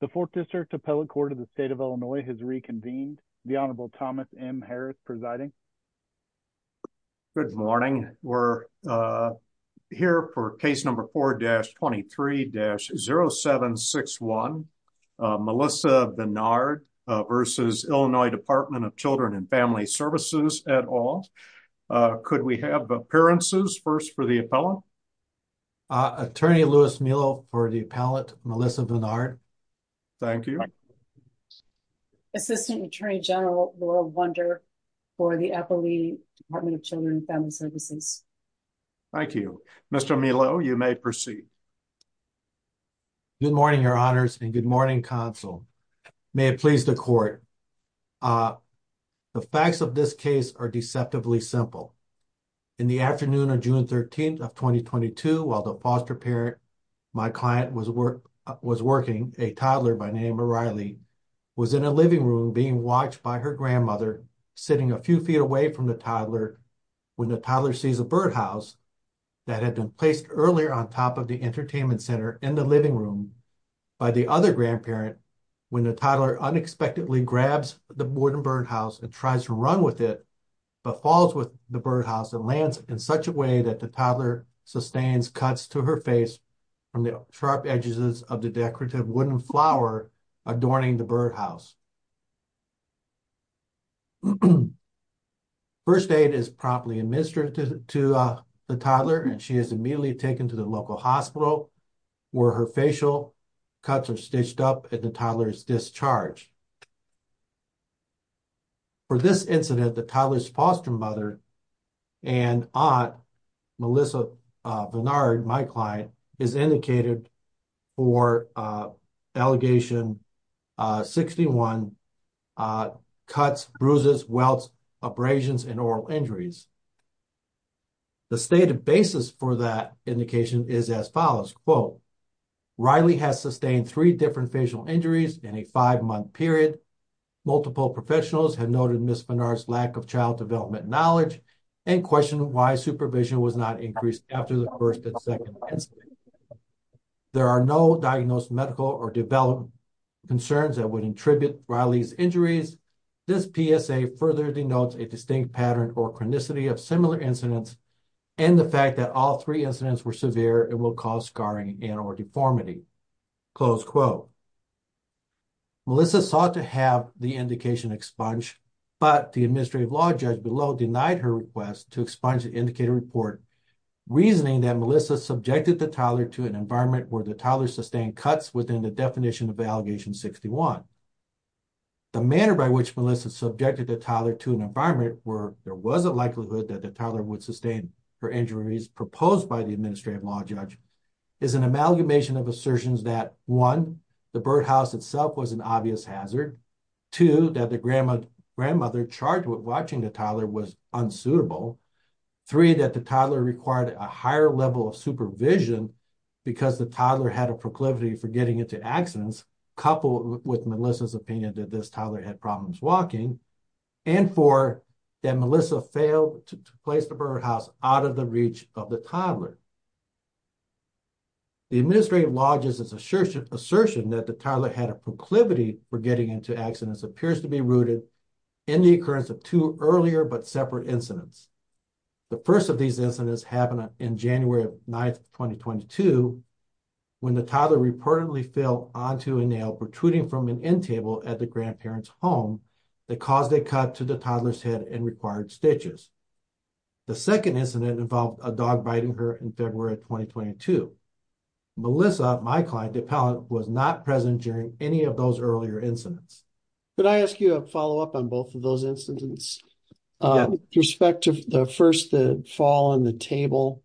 The Fourth District Appellate Court of the State of Illinois has reconvened. The Honorable Thomas M. Harris presiding. Good morning. We're here for case number 4-23-0761. Melissa Benard v. Illinois Department of Children & Family Services et al. Could we have appearances first for the appellant? Attorney Louis Melo for the appellant, Melissa Benard. Thank you. Assistant Attorney General Laurel Wunder for the Appellate Department of Children & Family Services. Thank you. Mr. Melo, you may proceed. Good morning, Your Honors, and good morning, Counsel. May it please the Court. The facts of this case are deceptively simple. In the afternoon of June 13th of 2022, while the foster parent my client was working, a toddler by the name of Riley, was in a living room being watched by her grandmother, sitting a few feet away from the toddler, when the toddler sees a birdhouse that had been placed earlier on top of the entertainment center in the living room by the other grandparent, when the toddler unexpectedly grabs the wooden birdhouse and tries to run with it, but falls with the birdhouse and lands in such a way that the toddler sustains cuts to her face from the sharp edges of the decorative wooden flower adorning the birdhouse. First aid is promptly administered to the toddler and she is immediately taken to the local hospital where her facial cuts are stitched up and the toddler is discharged. For this incident, the toddler's foster mother and aunt, Melissa Vinard, my client, is indicated for Allegation 61, cuts, bruises, welts, abrasions, and oral injuries. The stated basis for that indication is as follows, quote, Riley has sustained three different facial injuries in a five-month period. Multiple professionals have noted Ms. Vinard's lack of child development knowledge and questioned why supervision was not increased after the first and second incidents. There are no diagnosed medical or development concerns that would attribute Riley's injuries. This PSA further denotes a distinct pattern or chronicity of similar incidents and the fact that all three incidents were severe and will cause scarring and or deformity, close quote. Melissa sought to have the indication expunged, but the administrative law judge below denied her request to expunge the indicator report, reasoning that Melissa subjected the toddler to an environment where the toddler sustained cuts within the definition of which Melissa subjected the toddler to an environment where there was a likelihood that the toddler would sustain her injuries proposed by the administrative law judge is an amalgamation of assertions that, one, the birdhouse itself was an obvious hazard, two, that the grandmother charged with watching the toddler was unsuitable, three, that the toddler required a higher level of supervision because the toddler had a proclivity for getting into accidents, coupled with Melissa's opinion that this toddler had problems walking, and four, that Melissa failed to place the birdhouse out of the reach of the toddler. The administrative law judge's assertion that the toddler had a proclivity for getting into accidents appears to be rooted in the occurrence of two earlier but separate incidents. The first of these incidents happened in January 9, 2022, when the toddler reportedly fell onto a nail protruding from an end table at the grandparent's home that caused a cut to the toddler's head and required stitches. The second incident involved a dog biting her in February 2022. Melissa, my client, the appellant, was not present during any of those earlier incidents. Could I ask you a follow-up on both of those incidents? Yeah. With respect to the first fall on the table,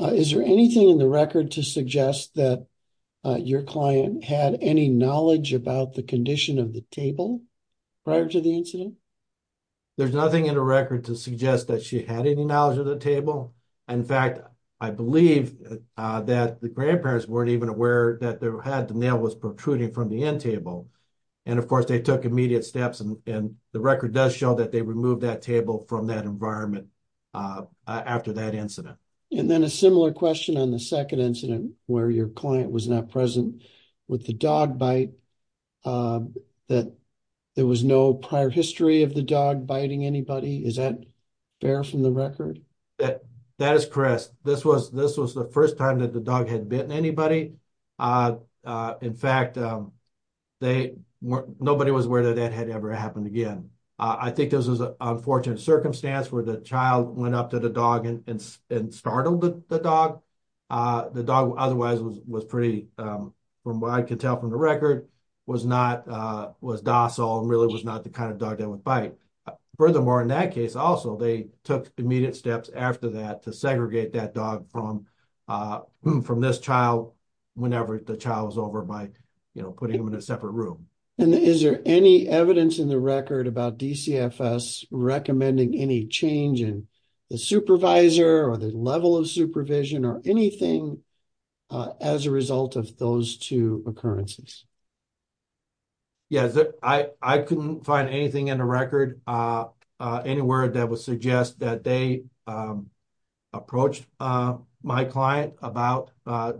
is there anything in the record to suggest that your client had any knowledge about the condition of the table prior to the incident? There's nothing in the record to suggest that she had any knowledge of the table. In fact, I believe that the grandparents weren't even aware that the nail was in the table. Of course, they took immediate steps and the record does show that they removed that table from that environment after that incident. And then a similar question on the second incident where your client was not present with the dog bite, that there was no prior history of the dog biting anybody. Is that fair from the record? That is correct. This was the first time that the dog had bitten anybody. In fact, they weren't, nobody was aware that that had ever happened again. I think this was an unfortunate circumstance where the child went up to the dog and startled the dog. The dog, otherwise, was pretty, from what I could tell from the record, was not, was docile and really was not the kind of dog that would bite. Furthermore, in that case also, they took immediate steps after that to put him in a separate room. And is there any evidence in the record about DCFS recommending any change in the supervisor or the level of supervision or anything as a result of those two occurrences? Yes, I couldn't find anything in the record anywhere that would suggest that they approached my client about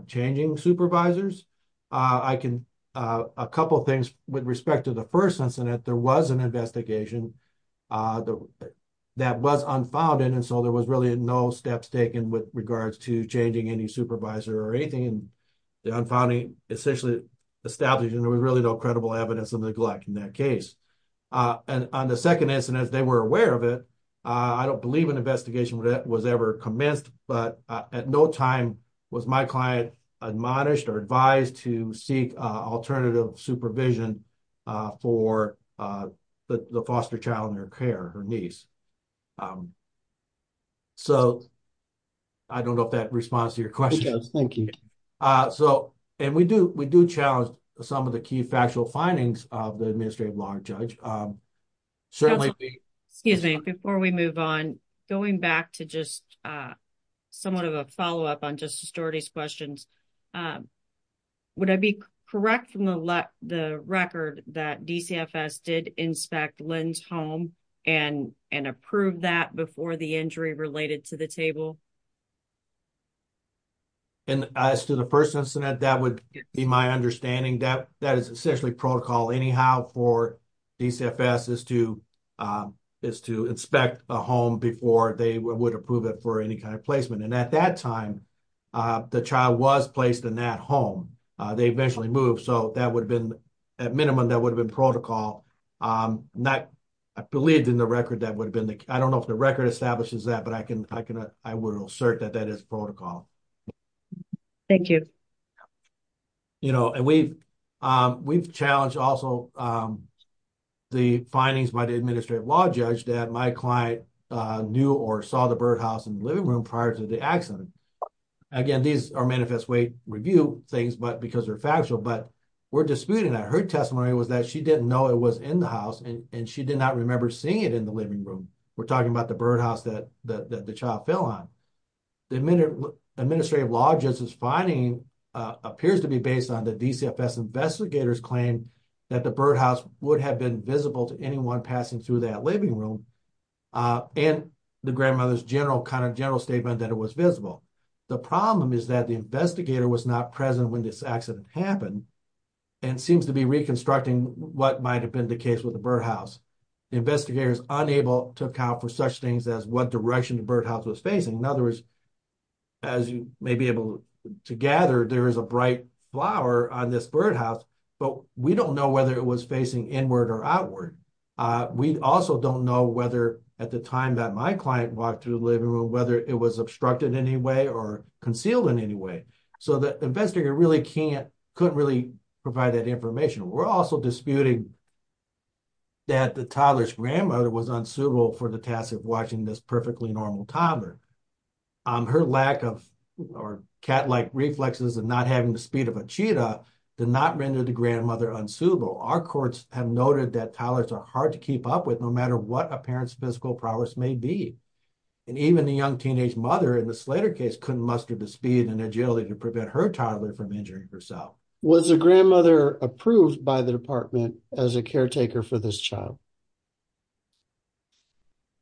changing supervisors. I can, a couple of things with respect to the first incident, there was an investigation that was unfounded. And so there was really no steps taken with regards to changing any supervisor or anything in the unfounding essentially established. And there was really no credible evidence of neglect in that case. And on the second incident, they were aware of it. I don't believe an investigation would have ever commenced, but at no time was my client admonished or advised to seek alternative supervision for the foster child in her care, her niece. So I don't know if that responds to your question. It does, thank you. And we do challenge some of the key factual findings of the administrative law judge. Certainly. Excuse me, before we move on, going back to just somewhat of a follow-up on Justice Doherty's questions, would I be correct from the record that DCFS did inspect Lynn's home and approve that before the injury related to the table? And as to the first incident, that would be my understanding that that is essentially protocol anyhow for DCFS is to inspect a home before they would approve it for any kind of placement. And at that time, the child was placed in that home. They eventually moved. So that would have been, at minimum, that would have been protocol. Not, I believe in the record that would have been, I don't know if the record establishes that, but I can, I would assert that that is protocol. Thank you. You know, and we've challenged also the findings by the administrative law judge that my client knew or saw the birdhouse in the living room prior to the accident. Again, these are manifest way review things, but because they're factual, but we're disputing that. Her testimony was that she didn't know it was in the house and she did not remember seeing it in the living room. We're talking about the birdhouse that the child fell on. The administrative law judge's finding appears to be based on the DCFS investigators claim that the birdhouse would have been visible to anyone passing through that living room. And the grandmother's general kind of general statement that it was visible. The problem is that the investigator was not present when this accident happened and seems to be reconstructing what might've been the case with the birdhouse. The investigator is unable to account for such things as what direction the to gather. There is a bright flower on this birdhouse, but we don't know whether it was facing inward or outward. We also don't know whether at the time that my client walked to the living room, whether it was obstructed in any way or concealed in any way. So the investigator really can't, couldn't really provide that information. We're also disputing that the toddler's grandmother was unsuitable for the task of watching this perfectly normal toddler. Um, her lack of cat-like reflexes and not having the speed of a cheetah did not render the grandmother unsuitable. Our courts have noted that toddlers are hard to keep up with no matter what a parent's physical prowess may be. And even the young teenage mother in the Slater case couldn't muster the speed and agility to prevent her toddler from injuring herself. Was the grandmother approved by the department as a caretaker for this child?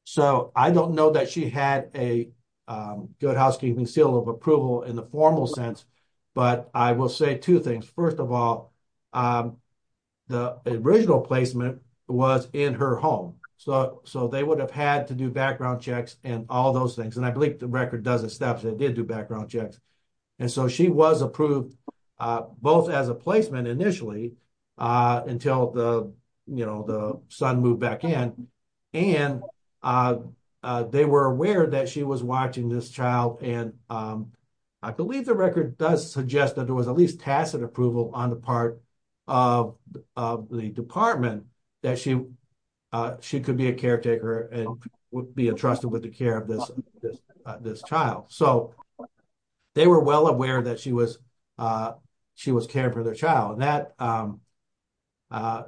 So I don't know that she had a good housekeeping seal of approval in the formal sense, but I will say two things. First of all, um, the original placement was in her home. So, so they would have had to do background checks and all those things. And I believe the record does establish that they did do background checks. And so she was approved, uh, both as a placement initially, uh, until the, you know, the son moved back in and, uh, uh, they were aware that she was watching this child. And, um, I believe the record does suggest that there was at least tacit approval on the part of, of the department that she, uh, she could be a caretaker and would be entrusted with the care of this, this, uh, this child. So they were well aware that she was, uh, she was caring for their child and that, um, uh,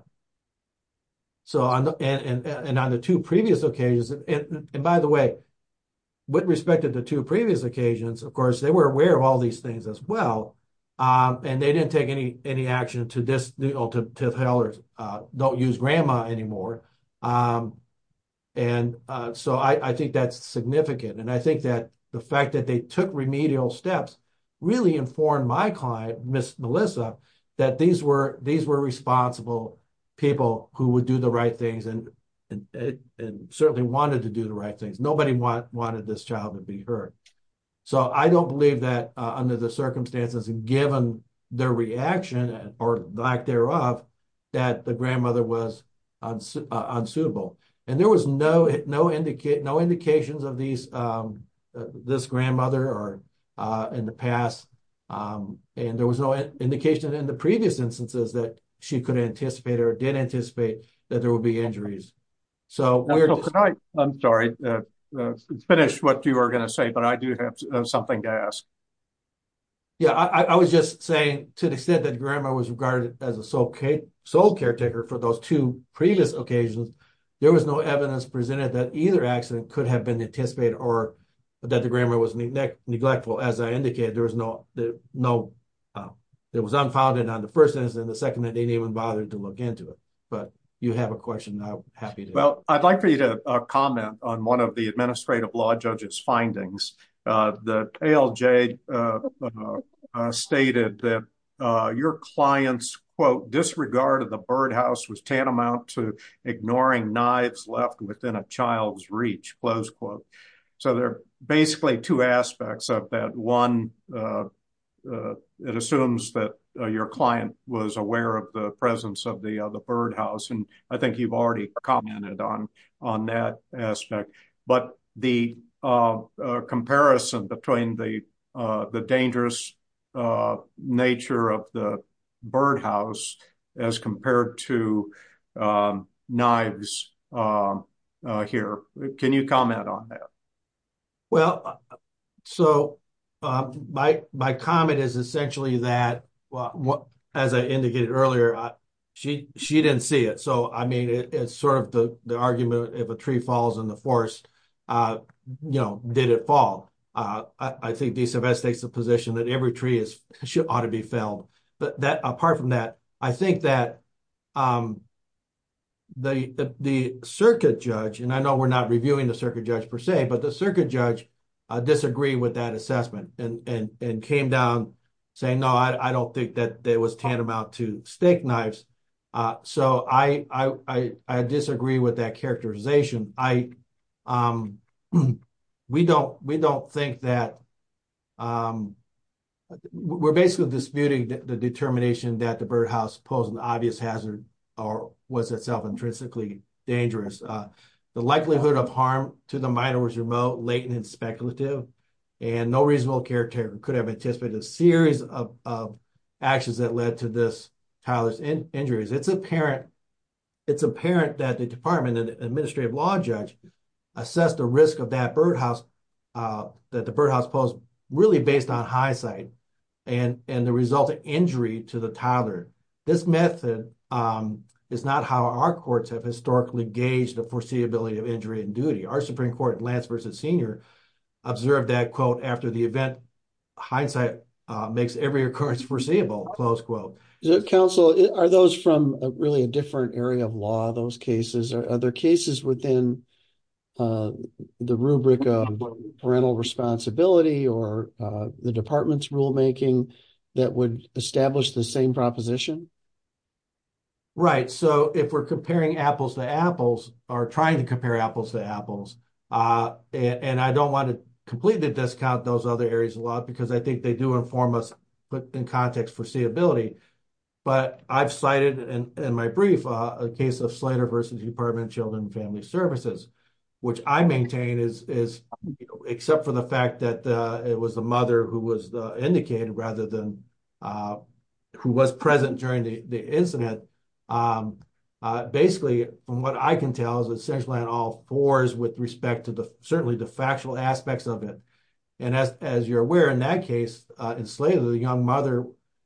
so on the, and, and on the two previous occasions, and by the way, with respect to the two previous occasions, of course, they were aware of all these things as well. Um, and they didn't take any, any action to this, you know, to tell her, uh, don't use grandma anymore. Um, and, uh, so I, I think that's significant. And I think that the fact that they took remedial steps really informed my client, Ms. Melissa, that these were, these were responsible people who would do the right things and, and, and certainly wanted to do the right things. Nobody wanted this child to be hurt. So I don't believe that, uh, under the circumstances, given their reaction or lack thereof, that the grandmother was unsuitable. And there was no, no indicate, no indications of these, um, uh, this grandmother or, uh, in the past. Um, and there was no indication in the previous instances that she could anticipate or didn't anticipate that there will be injuries. So I'm sorry to finish what you are going to say, but I do have something to ask. Yeah. I was just saying to the extent that grandma was regarded as sole caretaker for those two previous occasions, there was no evidence presented that either accident could have been anticipated or that the grandma was neglectful. As I indicated, there was no, no, uh, it was unfounded on the first instance. And the second that they didn't even bother to look into it, but you have a question now. Well, I'd like for you to comment on one of the of the birdhouse was tantamount to ignoring knives left within a child's reach close quote. So there are basically two aspects of that. One, uh, uh, it assumes that your client was aware of the presence of the, uh, the birdhouse. And I think you've already commented on, on that aspect, but the, uh, uh, comparison between the, uh, the dangerous, uh, nature of the birdhouse as compared to, um, knives, uh, uh, here, can you comment on that? Well, so, um, my, my comment is essentially that, well, as I indicated earlier, she, she didn't see it. So, I mean, it's sort of the, the argument, if a tree falls in the forest, uh, you know, did it fall? Uh, I think these investments, the position that every tree is should, ought to be failed, but that apart from that, I think that, um, the, the circuit judge, and I know we're not reviewing the circuit judge per se, but the circuit judge, uh, disagree with that assessment and, and, and came down saying, no, I don't think that there was tantamount to steak knives. Uh, so I, I, I, I disagree with that characterization. I, um, we don't, we don't think that, um, we're basically disputing the determination that the birdhouse posed an obvious hazard or was itself intrinsically dangerous. Uh, the likelihood of harm to the minor was remote, latent, and speculative, and no reasonable character could have anticipated a series of, of actions that led to this Tyler's injuries. It's apparent, it's apparent that the department and the administrative law judge assess the risk of that birdhouse, uh, that the birdhouse posed really based on hindsight and, and the result of injury to the toddler. This method, um, is not how our courts have historically gauged the foreseeability of injury and duty. Our Supreme court Lance versus senior observed that quote, after the event hindsight, uh, makes every occurrence foreseeable close quote council. Are those from a really a different area of law, those cases or other cases within, uh, the rubric of parental responsibility or, uh, the department's rulemaking that would establish the same proposition. Right. So if we're comparing apples to apples are trying to compare apples to apples. Uh, and I don't want to completely discount those other areas of law because I think they do inform us, but in context foreseeability, but I've cited in my brief, uh, a case of slider versus department children, family services, which I maintain is, is except for the fact that, uh, it was the mother who was the indicated rather than, uh, who was present during the incident. Um, uh, basically from what I can tell is essentially on all fours with respect to the, certainly the factual aspects of it. And as, as you're aware, in that case, uh, enslaved, the young mother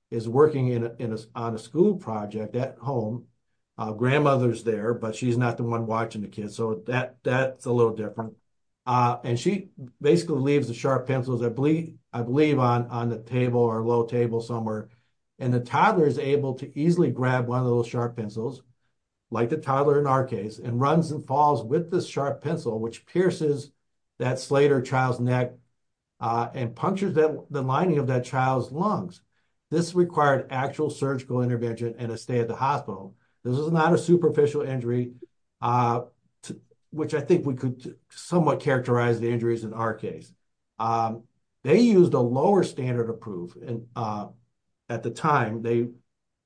is working in a, in a, on a school project at home, uh, grandmother's there, but she's not the one watching the kids. So that, that's a little different. Uh, and she basically leaves the sharp pencils. I believe, I believe on, on the table or table somewhere. And the toddler is able to easily grab one of those sharp pencils, like the toddler in our case and runs and falls with the sharp pencil, which pierces that Slater child's neck, uh, and punctures that the lining of that child's lungs. This required actual surgical intervention and a stay at the hospital. This is not a superficial injury, uh, which I think we could somewhat characterize the injuries in our case. Um, they used a lower standard of proof. And, uh, at the time they,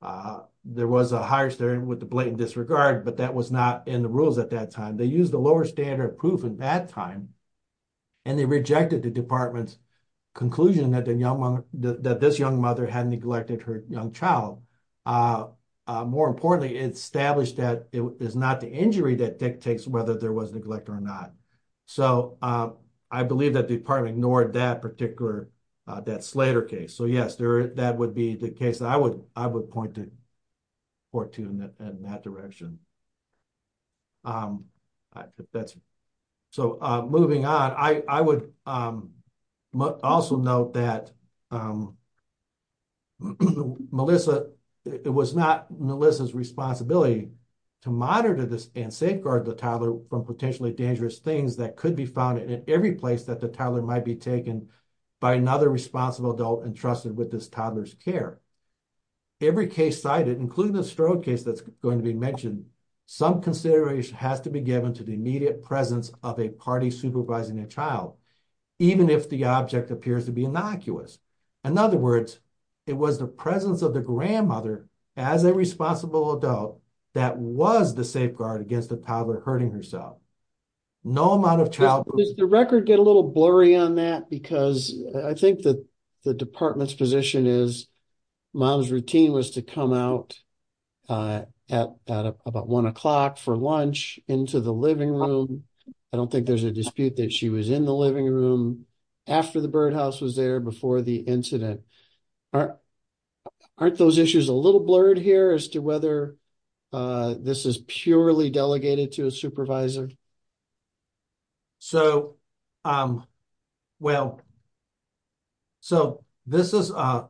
uh, there was a higher standard with the blatant disregard, but that was not in the rules at that time. They used the lower standard of proof in that time. And they rejected the department's conclusion that the young mom, that this young mother had neglected her young child. Uh, uh, more importantly, it's established that it is not the injury that dictates whether there was neglect or not. So, uh, I believe that department ignored that particular, uh, that Slater case. So yes, there, that would be the case that I would, I would point to, or to in that direction. Um, that's, so, uh, moving on, I, I would, um, also note that, um, Melissa, it was not Melissa's responsibility to monitor this and safeguard the toddler from potentially dangerous things that could be found in every place that toddler might be taken by another responsible adult entrusted with this toddler's care. Every case cited, including the Strode case that's going to be mentioned, some consideration has to be given to the immediate presence of a party supervising a child, even if the object appears to be innocuous. In other words, it was the presence of the grandmother as a responsible adult that was the safeguard against the toddler hurting herself. No amount of child. Does the record get a little blurry on that? Because I think that the department's position is mom's routine was to come out, uh, at about one o'clock for lunch into the living room. I don't think there's a dispute that she was in the living room after the birdhouse was there before the incident. Aren't those issues a little blurred here as to whether, uh, this is purely delegated to a supervisor? So, um, well, so this is, uh,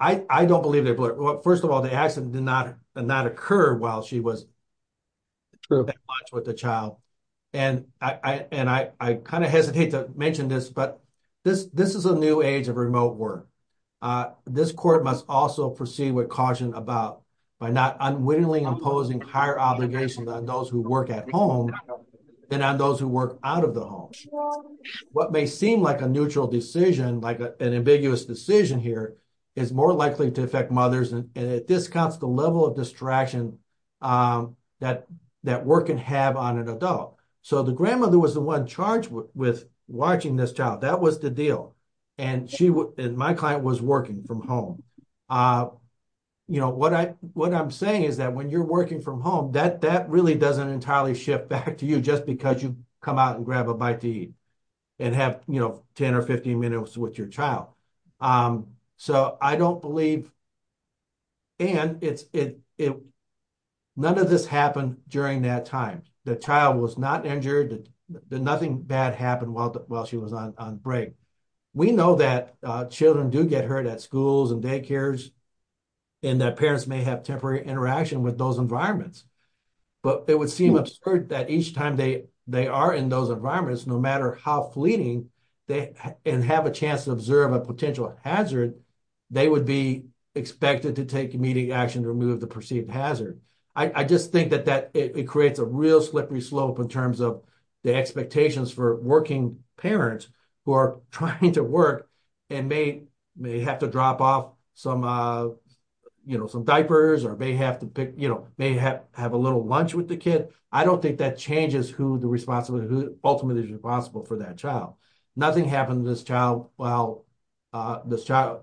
I, I don't believe that. But first of all, the accident did not not occur while she was true with the child. And I, and I, I kind of hesitate to mention this, but this, this is a new age of remote work. Uh, this court must also proceed with caution about by not unwittingly imposing higher obligations on those who work at home than on those who work out of the home. What may seem like a neutral decision, like an ambiguous decision here is more likely to affect mothers. And it discounts the level of distraction, um, that, that work can have on an adult. So the grandmother was the one charged with watching this child. That was the deal. And she would, and my client was working from home. Uh, you know, what I, what I'm saying is that when you're working from home, that, that really doesn't entirely ship back to you just because you come out and grab a bite to eat and have, you know, 10 or 15 minutes with your child. Um, so I don't believe, and it's, it, it, child was not injured. Nothing bad happened while, while she was on break. We know that, uh, children do get hurt at schools and daycares and that parents may have temporary interaction with those environments, but it would seem absurd that each time they, they are in those environments, no matter how fleeting they have a chance to observe a potential hazard, they would be expected to take immediate action to remove the perceived hazard. I just think that that it creates a real slippery slope in terms of the expectations for working parents who are trying to work and may, may have to drop off some, uh, you know, some diapers or may have to pick, you know, may have, have a little lunch with the kid. I don't think that changes who the responsibility, who ultimately is responsible for that child. Nothing happened to this child while, uh,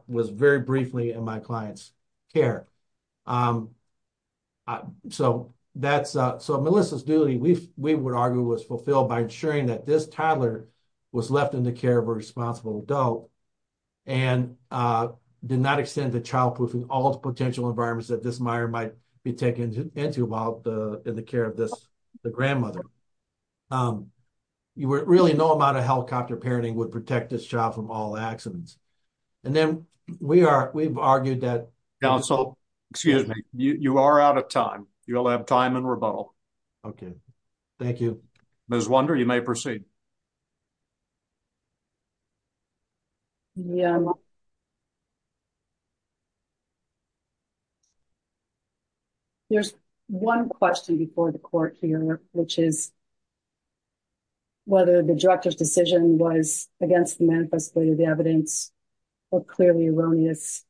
was very briefly in my client's care. Um, uh, so that's, uh, so Melissa's duty we've, we would argue was fulfilled by ensuring that this toddler was left in the care of a responsible adult and, uh, did not extend to childproofing all the potential environments that this mire might be taken into while the, in the care of this, the grandmother. Um, you were really no amount of helicopter parenting would protect this job from all accidents. And then we are, we've argued that counsel, excuse me, you are out of time. You'll have time and rebuttal. Okay. Thank you. Ms. Wonder, you may proceed. Yeah. Okay. There's one question before the court here, which is whether the director's decision was against the manifesto of the evidence or clearly erroneous.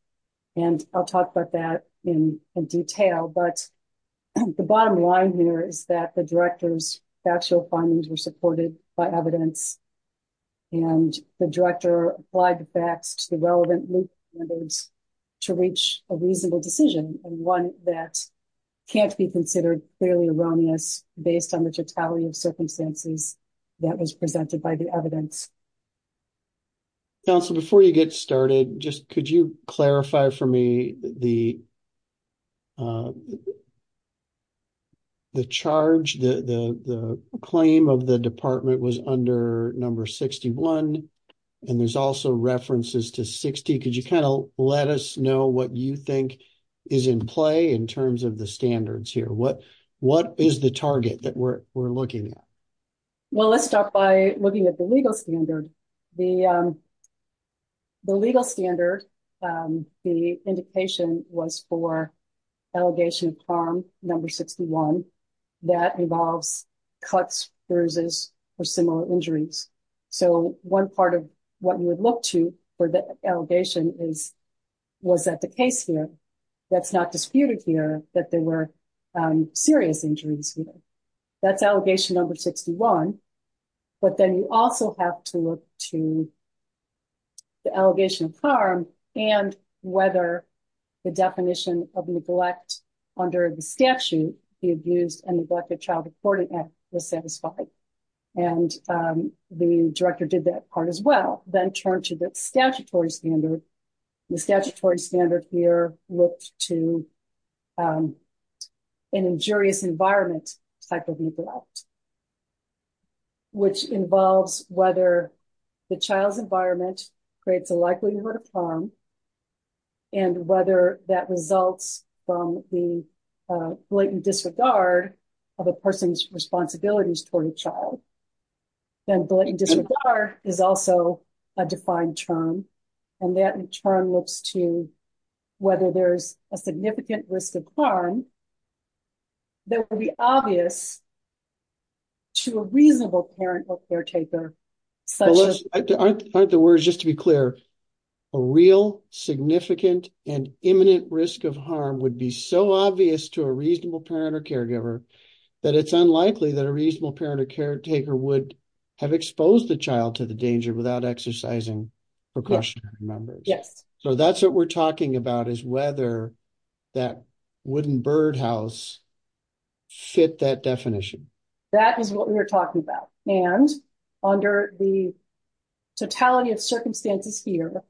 And I'll talk about that in detail, but the bottom line here is that the director's actual findings were supported by evidence and the director applied the facts to the relevant loop standards to reach a reasonable decision. And one that can't be considered clearly erroneous based on the totality of circumstances that was presented by the evidence. Counsel, before you get started, just, could you clarify for me the, uh, the charge, the, the, the claim of the department was under number 61 and there's also references to 60. Could you kind of let us know what you think is in play in terms of the standards here? What, what is the target that we're, we're looking at? Well, let's start by looking at the legal standard, the, um, the legal standard, um, the indication was for allegation of harm number 61 that involves cuts, bruises or similar injuries. So one part of what you would look to for the allegation is, was that the case here that's not disputed here that there were, um, serious injuries. That's allegation number 61, but then you also have to look to the allegation of harm and whether the definition of neglect under the statute, the abused and neglected child reporting act was satisfied. And, um, the director did that part as well. Then turn to the statutory standard, the statutory standard here looked to, um, an injurious environment type of neglect, which involves whether the child's environment creates a likelihood of harm and whether that results from the, uh, blatant disregard of a person's responsibilities toward a child. Then blatant disregard is also a defined term. And that in turn looks to whether there's a significant risk of harm that will be obvious to a reasonable parent or caretaker. Aren't the words just to be clear, a real significant and imminent risk of harm would be so obvious to a reasonable parent or caregiver that it's unlikely that a reasonable parent or caretaker would have exposed the child to the danger without exercising precautionary measures. So that's what we're talking about is whether that wooden birdhouse fit that definition. That is what we were talking about. And under the totality of circumstances here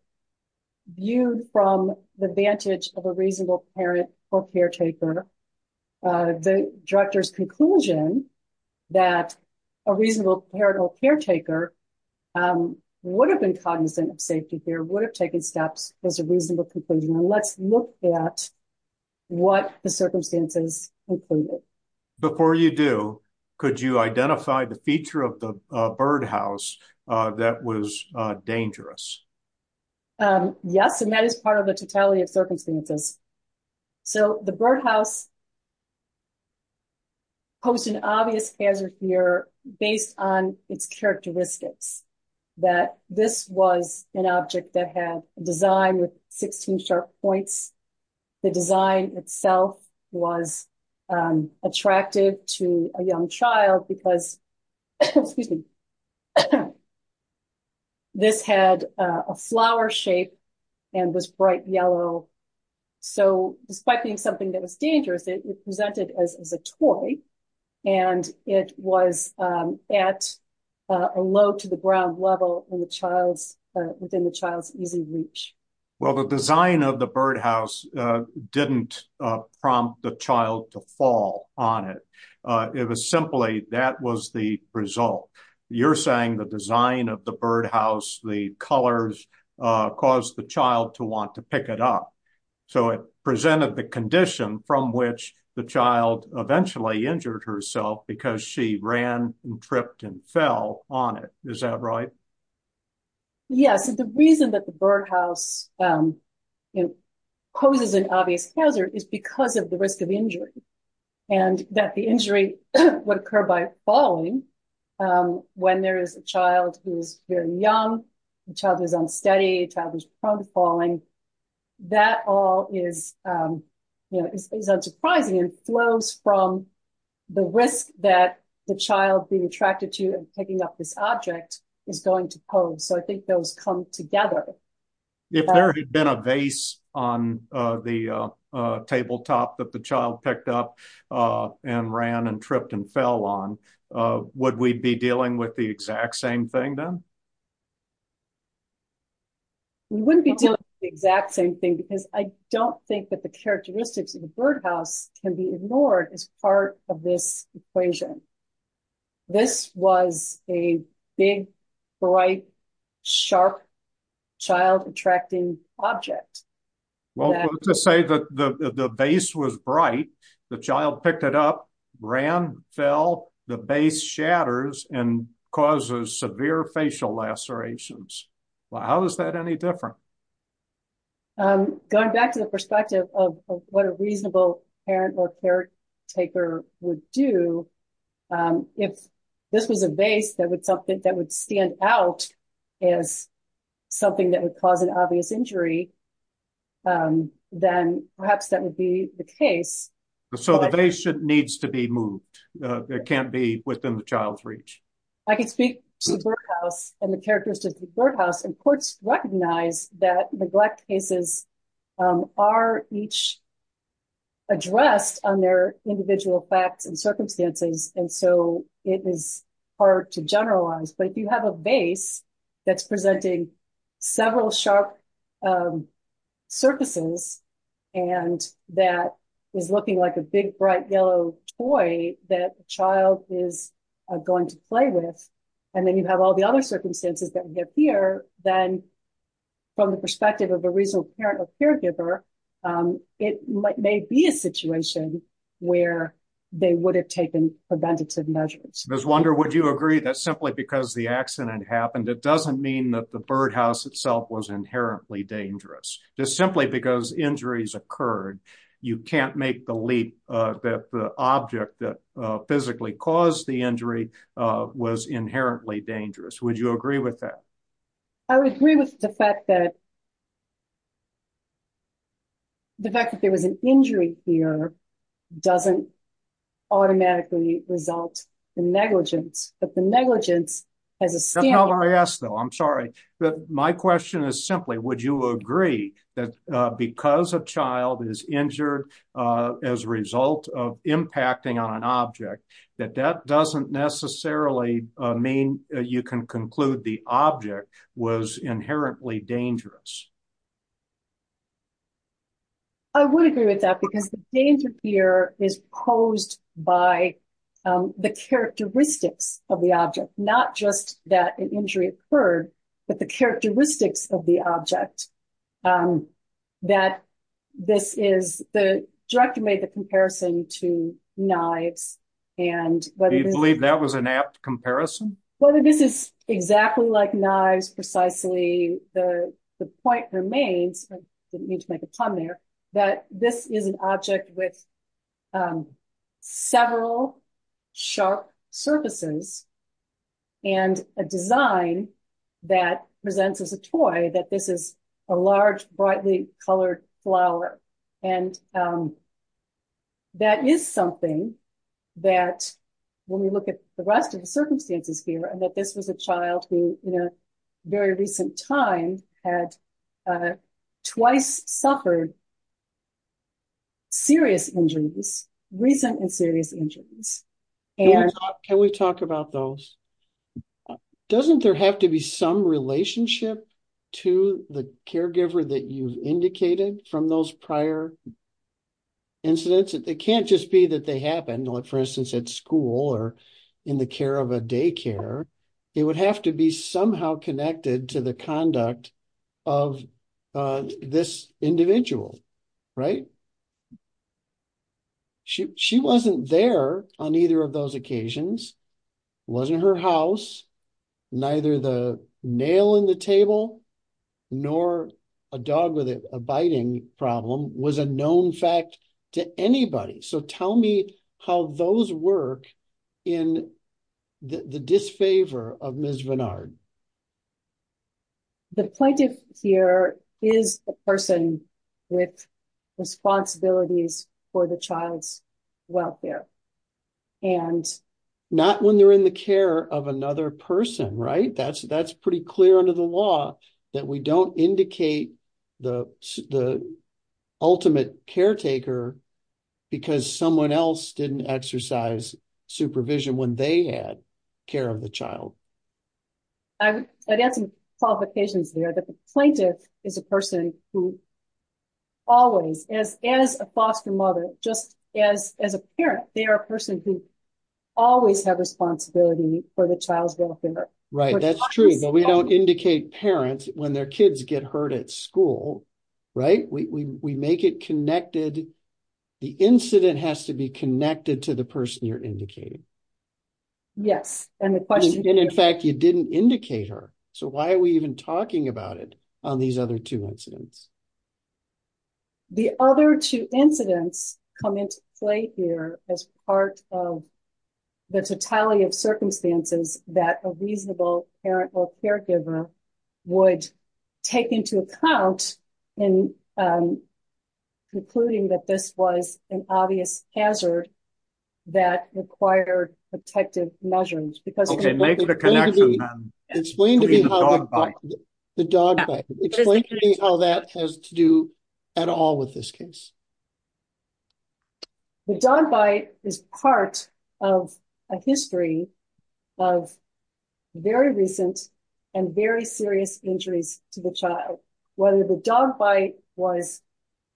viewed from the vantage of a reasonable parent or caretaker, uh, the director's conclusion that a reasonable parent or caretaker, um, would have been cognizant of safety here, would have taken steps as a reasonable conclusion. And let's look at what the circumstances included. Before you do, could you identify the feature of the birdhouse, uh, that was dangerous? Um, yes. And that is part of the totality of circumstances. So the birdhouse posed an obvious hazard here based on its characteristics, that this was an object that had a design with 16 sharp points. The design itself was, um, attractive to a young child because, excuse me, this had a flower shape and was bright yellow. So despite being something that was dangerous, it presented as a toy and it was, um, at a low to the ground level in the child's, uh, within the child's easy reach. Well, the design of the birdhouse, uh, didn't, uh, prompt the child to fall on it. Uh, it was simply that was the result. You're saying the design of the birdhouse, the colors, uh, caused the child to want to pick it up. So it presented the condition from which the child eventually injured herself because she ran and tripped and fell on it. Is that right? Yes. And the reason that the birdhouse, um, you know, poses an obvious hazard is because of the risk of injury and that the injury would occur by falling. Um, when there is a child who is very young, the child is unsteady, the child is prone to falling. That all is, um, you know, is unsurprising and flows from the risk that the child being attracted to and picking up this object is going to pose. So I think those come together. If there had been a vase on, uh, the, uh, uh, tabletop that the child picked up, uh, and ran and tripped and fell on, uh, would we be dealing with the exact same thing then? We wouldn't be doing the exact same thing because I don't think that the characteristics of the birdhouse can be ignored as part of this equation. This was a big, bright, sharp, child-attracting object. Well, let's just say that the vase was bright, the child picked it up, ran, fell, the vase shatters and causes severe facial lacerations. Well, how is that any different? Um, going back to the perspective of what a reasonable parent or caretaker would do, um, if this was a vase that would something that would stand out as something that would cause an obvious injury, um, then perhaps that would be the case. So the vase needs to be moved. Uh, it can't be within the child's reach. I can speak to the birdhouse and characteristics of the birdhouse and courts recognize that neglect cases, um, are each addressed on their individual facts and circumstances. And so it is hard to generalize, but if you have a vase that's presenting several sharp, um, surfaces and that is looking like a big, bright, yellow toy that the child is going to play with, and then you have all the other circumstances that we have here, then from the perspective of a reasonable parent or caregiver, um, it may be a situation where they would have taken preventative measures. Ms. Wunder, would you agree that simply because the accident happened, it doesn't mean that the birdhouse itself was inherently dangerous? Just simply because injuries occurred, you can't make the leap, uh, that the object that, uh, physically caused the injury, uh, was inherently dangerous. Would you agree with that? I would agree with the fact that the fact that there was an injury here doesn't automatically result in negligence, but the negligence as a standard... That's not what I asked though, I'm sorry. But my question is simply, would you agree that, uh, because a child is injured, uh, as a result of impacting on an object, that that doesn't necessarily, uh, mean you can conclude the object was inherently dangerous? I would agree with that because the danger here is posed by, um, the characteristics of the object, not just that an injury occurred, but the characteristics of the object, um, that this is... The director made the comparison to knives and... Do you believe that was an apt comparison? Whether this is exactly like knives, precisely, the point remains, I didn't mean to make a pun there, that this is an object with, um, several sharp surfaces and a design that presents as a toy, that this is a large, brightly colored flower, and, um, that is something that when we look at the rest of the circumstances here, and that this was a child who, in a very recent time, had, uh, twice suffered serious injuries, recent and serious injuries, and... to the caregiver that you've indicated from those prior incidents, it can't just be that they happened, like, for instance, at school or in the care of a daycare. It would have to be somehow connected to the conduct of, uh, this individual, right? She... She wasn't there on either of those occasions, wasn't her house, neither the nail in the table, nor a dog with a biting problem, was a known fact to anybody. So, tell me how those work in the disfavor of Ms. Bernard. The plaintiff here is a person with responsibilities for the child's care of another person, right? That's... That's pretty clear under the law that we don't indicate the... the ultimate caretaker because someone else didn't exercise supervision when they had care of the child. I would add some qualifications there that the plaintiff is a person who always, as... as a foster mother, just as... as a parent, they are a person who always have responsibility for the child's welfare. Right, that's true, but we don't indicate parents when their kids get hurt at school, right? We... we make it connected. The incident has to be connected to the person you're indicating. Yes, and the question... And, in fact, you didn't indicate her. So, why are we even talking about it on these other two incidents? The other two incidents come into play here as part of the totality of circumstances that a reasonable parent or caregiver would take into account in concluding that this was an obvious hazard that required protective measures because... Okay, make it a connection. Explain to me how that has to do at all with this case. The dog bite is part of a history of very recent and very serious injuries to the child. Whether the dog bite was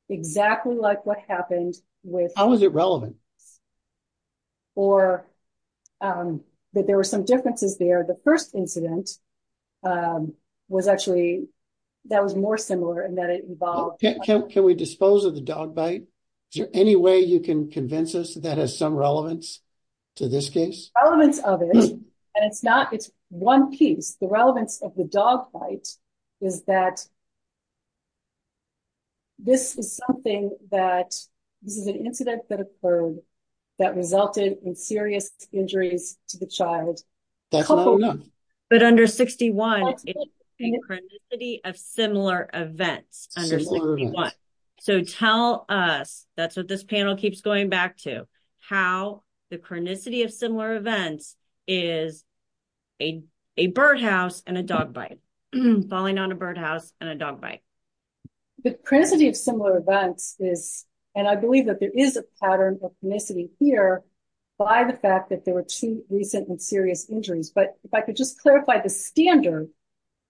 exactly like what happened with... How was it relevant? Or that there were some differences there. The first incident was actually... that was more similar in that it involved... Can we dispose of the dog bite? Is there any way you can convince us that has some relevance to this case? Relevance of it, and it's not... it's one piece. The relevance of the dog bite is that this is something that... this is an incident that that resulted in serious injuries to the child. But under 61, it's a chronicity of similar events. So, tell us... that's what this panel keeps going back to... how the chronicity of similar events is a birdhouse and a dog bite. Falling on a birdhouse and a dog bite. The chronicity of similar events is... and I believe that there is a pattern of chronicity here by the fact that there were two recent and serious injuries. But if I could just clarify the standard...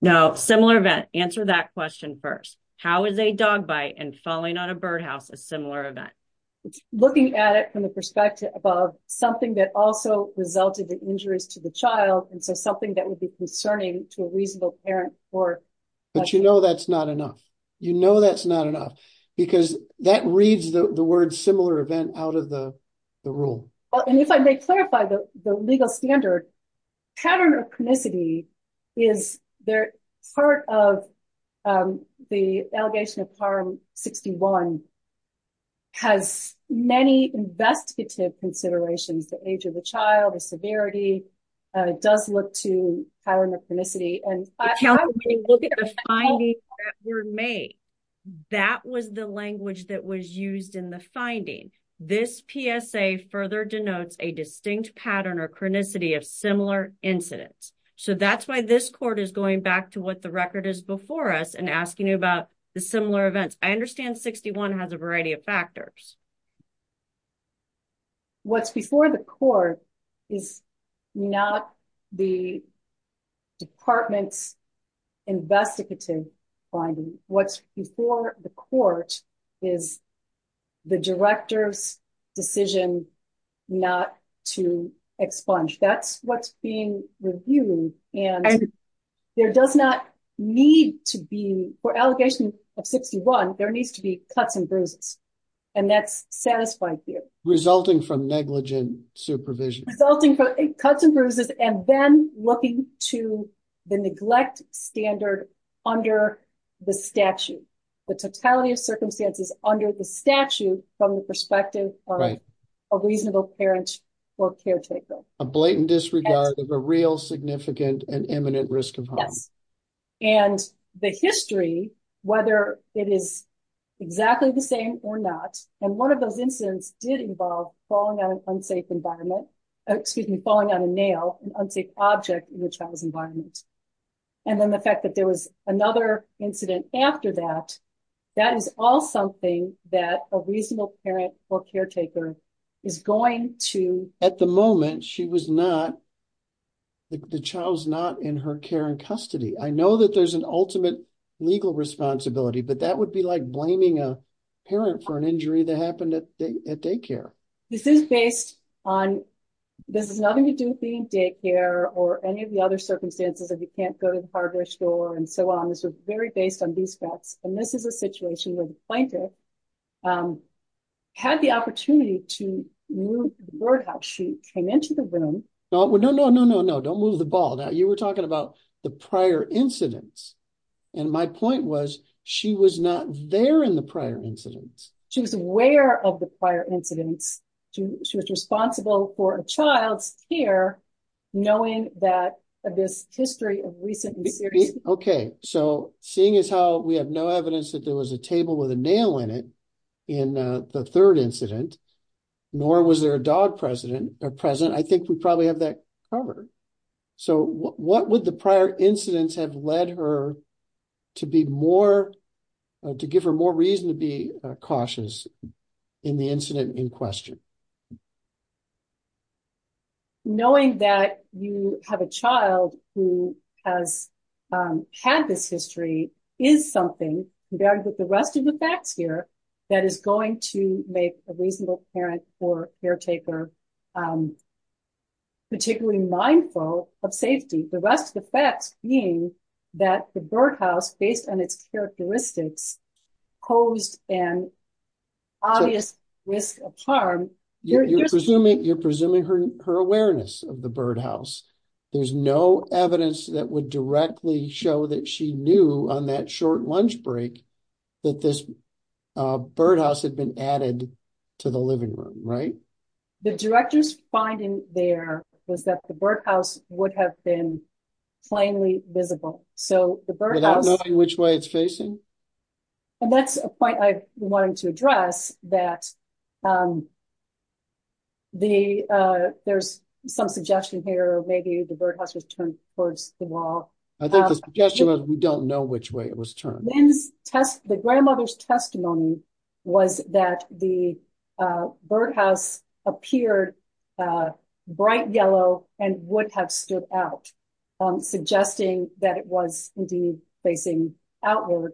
No, similar event. Answer that question first. How is a dog bite and falling on a birdhouse a similar event? Looking at it from the perspective of something that also resulted in injuries to the child and so something that would be concerning to a reasonable parent or... But you know that's enough. You know that's not enough because that reads the word similar event out of the rule. Well, and if I may clarify the legal standard, pattern of chronicity is there... part of the allegation of harm 61 has many investigative considerations. The age of the child, the severity does look to pattern of chronicity and... That was the language that was used in the finding. This PSA further denotes a distinct pattern or chronicity of similar incidents. So that's why this court is going back to what the record is before us and asking you about the similar events. I understand 61 has a variety of factors. What's before the court is not the department's investigative finding. What's before the court is the director's decision not to expunge. That's what's being reviewed and there does not need to be, for allegation of 61, there needs to be cuts and bruises and that's satisfied here. Resulting from negligent supervision. Resulting from cuts and bruises and then looking to the neglect standard under the statute. The totality of circumstances under the statute from the perspective of a reasonable parent or caretaker. A blatant disregard of a real significant and imminent risk of harm. And the history, whether it is exactly the same or not, and one of those incidents did involve falling on an unsafe environment, excuse me, falling on a nail, an unsafe object in the child's environment. And then the fact that there was another incident after that, that is all something that a reasonable parent or caretaker is going to. At the moment, she was not, the child's not in her care and custody. I know that there's an ultimate legal responsibility, but that would be like blaming a parent for an injury that happened at daycare. This is based on, this has nothing to do with being daycare or any of the other circumstances that you can't go to the hardware store and so on. This was very based on these facts. And this is a situation where the plaintiff had the opportunity to move the board house. She came into the room. No, no, no, no, no, no. Don't move the ball. Now you were talking about the prior incidents. And my point was she was not there in the prior incidents. She was aware of the prior incidents. She was responsible for a child's care, knowing that this history of recent... Okay. So seeing as how we have no evidence that there was a table with a nail in it in the third incident, nor was there a dog present, I think we probably have that covered. So what would the prior incidents have led her to be more, to give her more reason to be has had this history is something, compared with the rest of the facts here, that is going to make a reasonable parent or caretaker particularly mindful of safety. The rest of the facts being that the birdhouse, based on its characteristics, posed an obvious risk of there's no evidence that would directly show that she knew on that short lunch break, that this birdhouse had been added to the living room, right? The director's finding there was that the birdhouse would have been plainly visible. So the birdhouse... Without knowing which way it's facing? And that's a point I wanted to address that there's some suggestion here, maybe the birdhouse was turned towards the wall. I think the suggestion was we don't know which way it was turned. The grandmother's testimony was that the birdhouse appeared bright yellow and would have stood out, suggesting that it was indeed facing outward,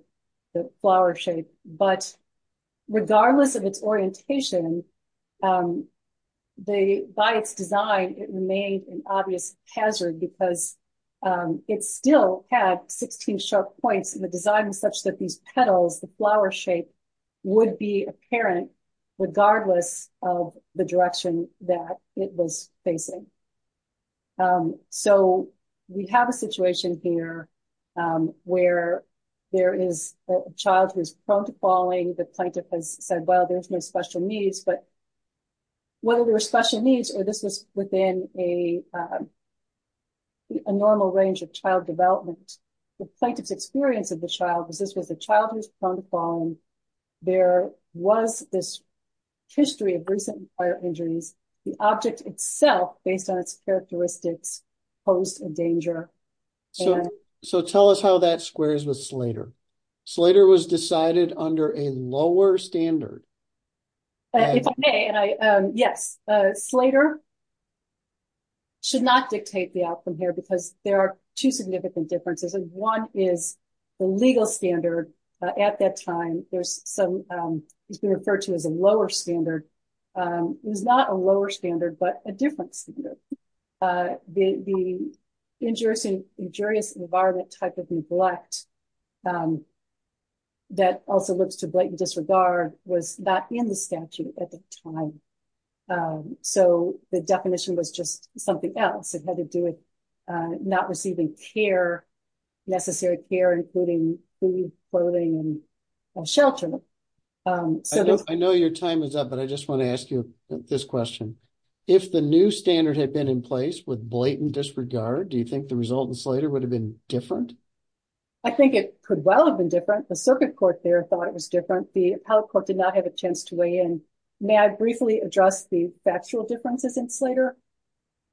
the flower shape. But regardless of its orientation, by its design, it remained an obvious hazard because it still had 16 sharp points in the design, such that these petals, the flower shape, would be apparent regardless of the direction that it was facing. So we have a situation here where there is a child who is prone to falling. The plaintiff has said, well, there's no special needs. But whether there were special needs or this was within a normal range of child development, the plaintiff's experience of the child was this was a child who's prone to falling. There was this history of recent fire injuries. The object itself, based on its So tell us how that squares with Slater. Slater was decided under a lower standard. Yes, Slater should not dictate the outcome here because there are two significant differences. One is the legal standard at that time. There's some, it's been referred to as a lower standard. It was not a lower standard, but a different standard. The injurious environment type of neglect that also looks to blatant disregard was not in the statute at the time. So the definition was just something else. It had to do with not receiving care, necessary care, including clothing and shelter. I know your time is up, but I just want to ask you this question. If the new standard had been in place with blatant disregard, do you think the result in Slater would have been different? I think it could well have been different. The circuit court there thought it was different. The appellate court did not have a chance to weigh in. May I briefly address the factual differences in Slater?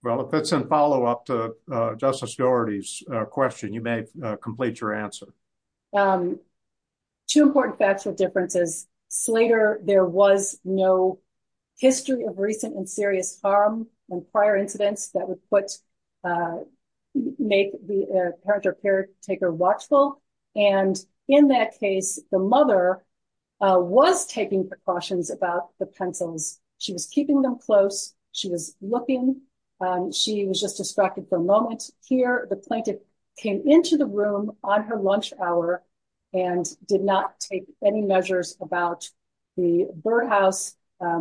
Well, if that's a follow up to Justice Doherty's question, you may complete your answer. Two important factual differences. Slater, there was no history of recent and serious harm and prior incidents that would put, make the parent or caretaker watchful. And in that case, the mother was taking precautions about the pencils. She was keeping them close. She was looking. She was just distracted for a moment. Here, the plaintiff came into the room on her lunch hour and did not take any measures about the birdhouse,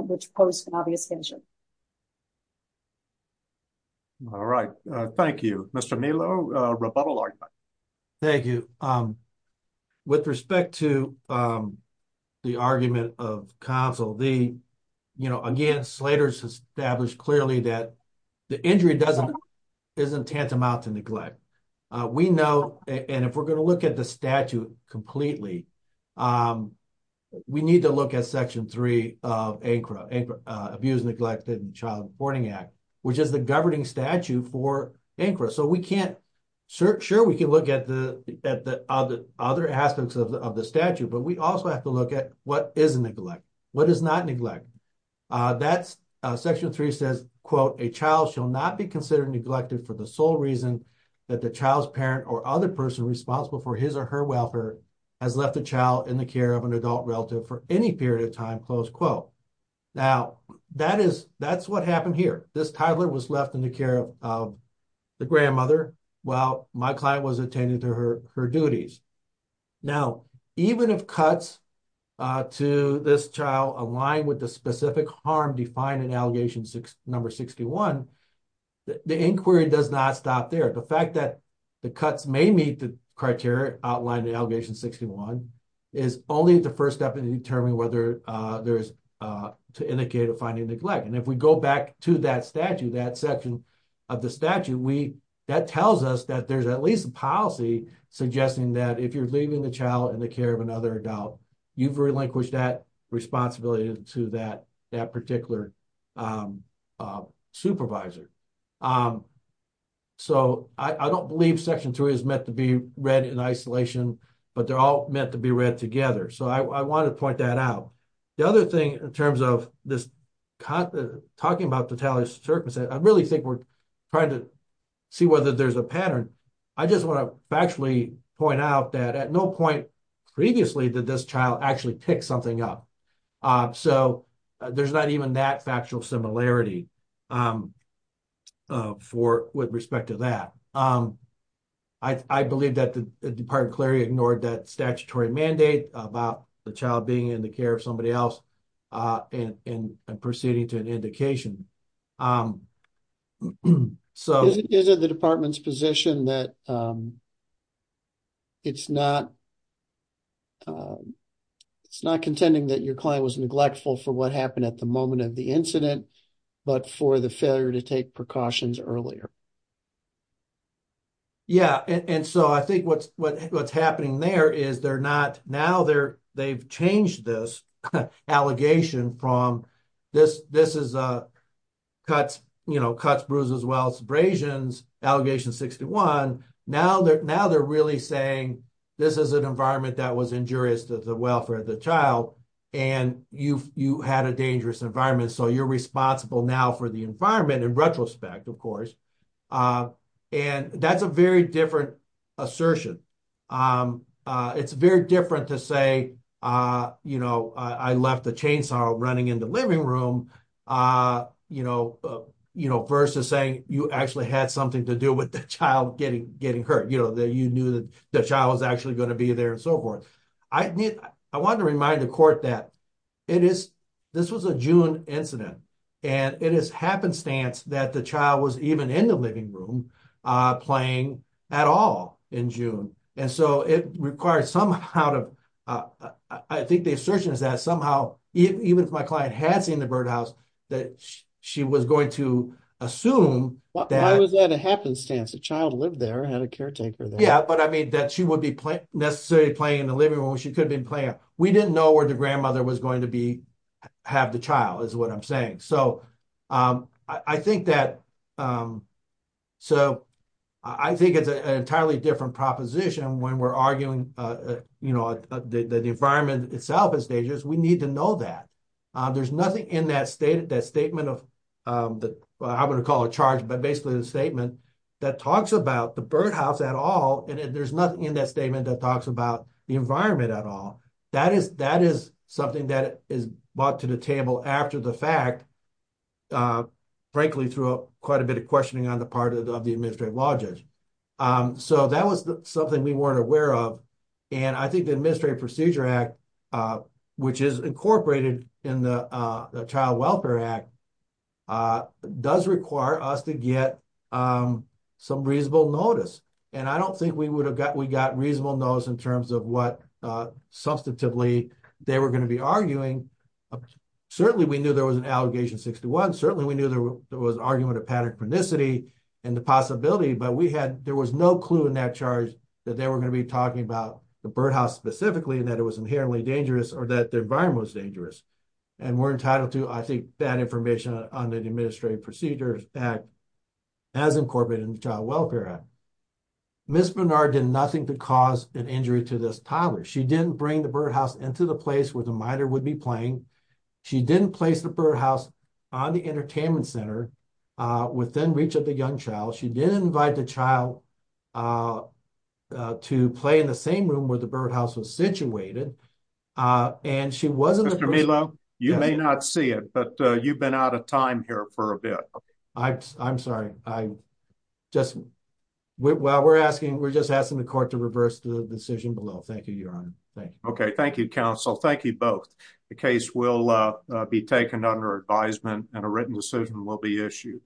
which posed an obvious danger. All right. Thank you, Mr. Milo. Rebuttal argument. Thank you. With respect to the argument of counsel, the, you know, again, Slater's established clearly that the injury doesn't, isn't tantamount to neglect. We know, and if we're going to look at the statute completely, we need to look at section three of ANCRA, Abuse, Neglect, and Child Borne Act, which is the governing statute for ANCRA. So we can't, sure we can look at the other aspects of the statute, but we also have to look at what is neglect, what is not neglect. That's section three says, quote, a child shall not be considered neglected for the sole reason that the child's parent or other person responsible for his or her welfare has left the child in the care of an adult relative for any period of time, close quote. Now that is, that's what happened here. This toddler was left in the care of the grandmother while my client was attending to her duties. Now, even if number 61, the inquiry does not stop there. The fact that the cuts may meet the criteria outlined in allegation 61 is only the first step in determining whether there's, to indicate a finding neglect. And if we go back to that statute, that section of the statute, we, that tells us that there's at least a policy suggesting that if you're leaving the child in the care of another adult, you've relinquished that responsibility to that, that particular supervisor. So I don't believe section three is meant to be read in isolation, but they're all meant to be read together. So I want to point that out. The other thing in terms of this, talking about totality circumstances, I really think we're trying to see whether there's a pattern. I just want to actually point out that at no point previously did this child actually pick something up. So there's not even that factual similarity for, with respect to that. I believe that the department clearly ignored that statutory mandate about the child being in the care of somebody else and proceeding to an indication. So... Is it the department's position that it's not contending that your client was neglectful for what happened at the moment of the incident, but for the failure to take precautions earlier? Yeah. And so I think what's happening there is they're not, now they've changed this allegation from this is a cuts, you know, cuts, bruises, wells, abrasions, allegation 61. Now they're really saying this is an environment that was injurious to the welfare of the child and you had a dangerous environment. So you're responsible now for the environment in retrospect, of course. And that's a very different assertion. It's very different to say, you know, I left the chainsaw running in the living room, you know, versus saying you actually had something to do with the child getting hurt. You know, that you knew that the child was actually going to be there and so forth. I wanted to remind the court that it is, this was a June incident and it is happenstance that the child was even in the living room playing at all in June. And so it requires somehow to, I think the assertion is that somehow, even if my client had seen the birdhouse, that she was going to assume that. Why was that a happenstance? The child lived there and had a caretaker there. Yeah, but I mean that she would be necessarily playing in the living room when she could have been playing. We didn't know where the grandmother was going to be, have the child is what I'm saying. So I think that, so I think it's an entirely different proposition when we're arguing, you know, the environment itself is dangerous. We need to know that. There's nothing in that statement of, I wouldn't call it a charge, but basically the statement that talks about the birdhouse at all. And there's nothing in that statement that talks about the environment at all. That is something that is brought to the table after the fact, frankly, through quite a bit of questioning on the part of the administrative law judge. So that was something we weren't aware of. And I think the Administrative Procedure Act, which is incorporated in the Child Welfare Act, does require us to get some reasonable notice. And I don't think we would have got, we got reasonable notice in terms of what substantively they were going to be arguing. Certainly we knew there was an Allegation 61. Certainly we knew there was an argument of panic-panicity and the possibility, but we had, there was no clue in that charge that they were going to be talking about the birdhouse specifically and that it was inherently dangerous or that the environment was dangerous. And we're entitled to, I think, that information on the Administrative Procedure Act as incorporated in the Child Welfare Act. Ms. Bernard did nothing to cause an injury to this toddler. She didn't bring the birdhouse into the place where the miter would be playing. She didn't place the entertainment center within reach of the young child. She didn't invite the child to play in the same room where the birdhouse was situated. And she wasn't- Mr. Melo, you may not see it, but you've been out of time here for a bit. I'm sorry. I just, well, we're asking, we're just asking the court to reverse the decision below. Thank you, Your Honor. Thank you. Thank you, counsel. Thank you both. The case will be taken under advisement and a written decision will be issued.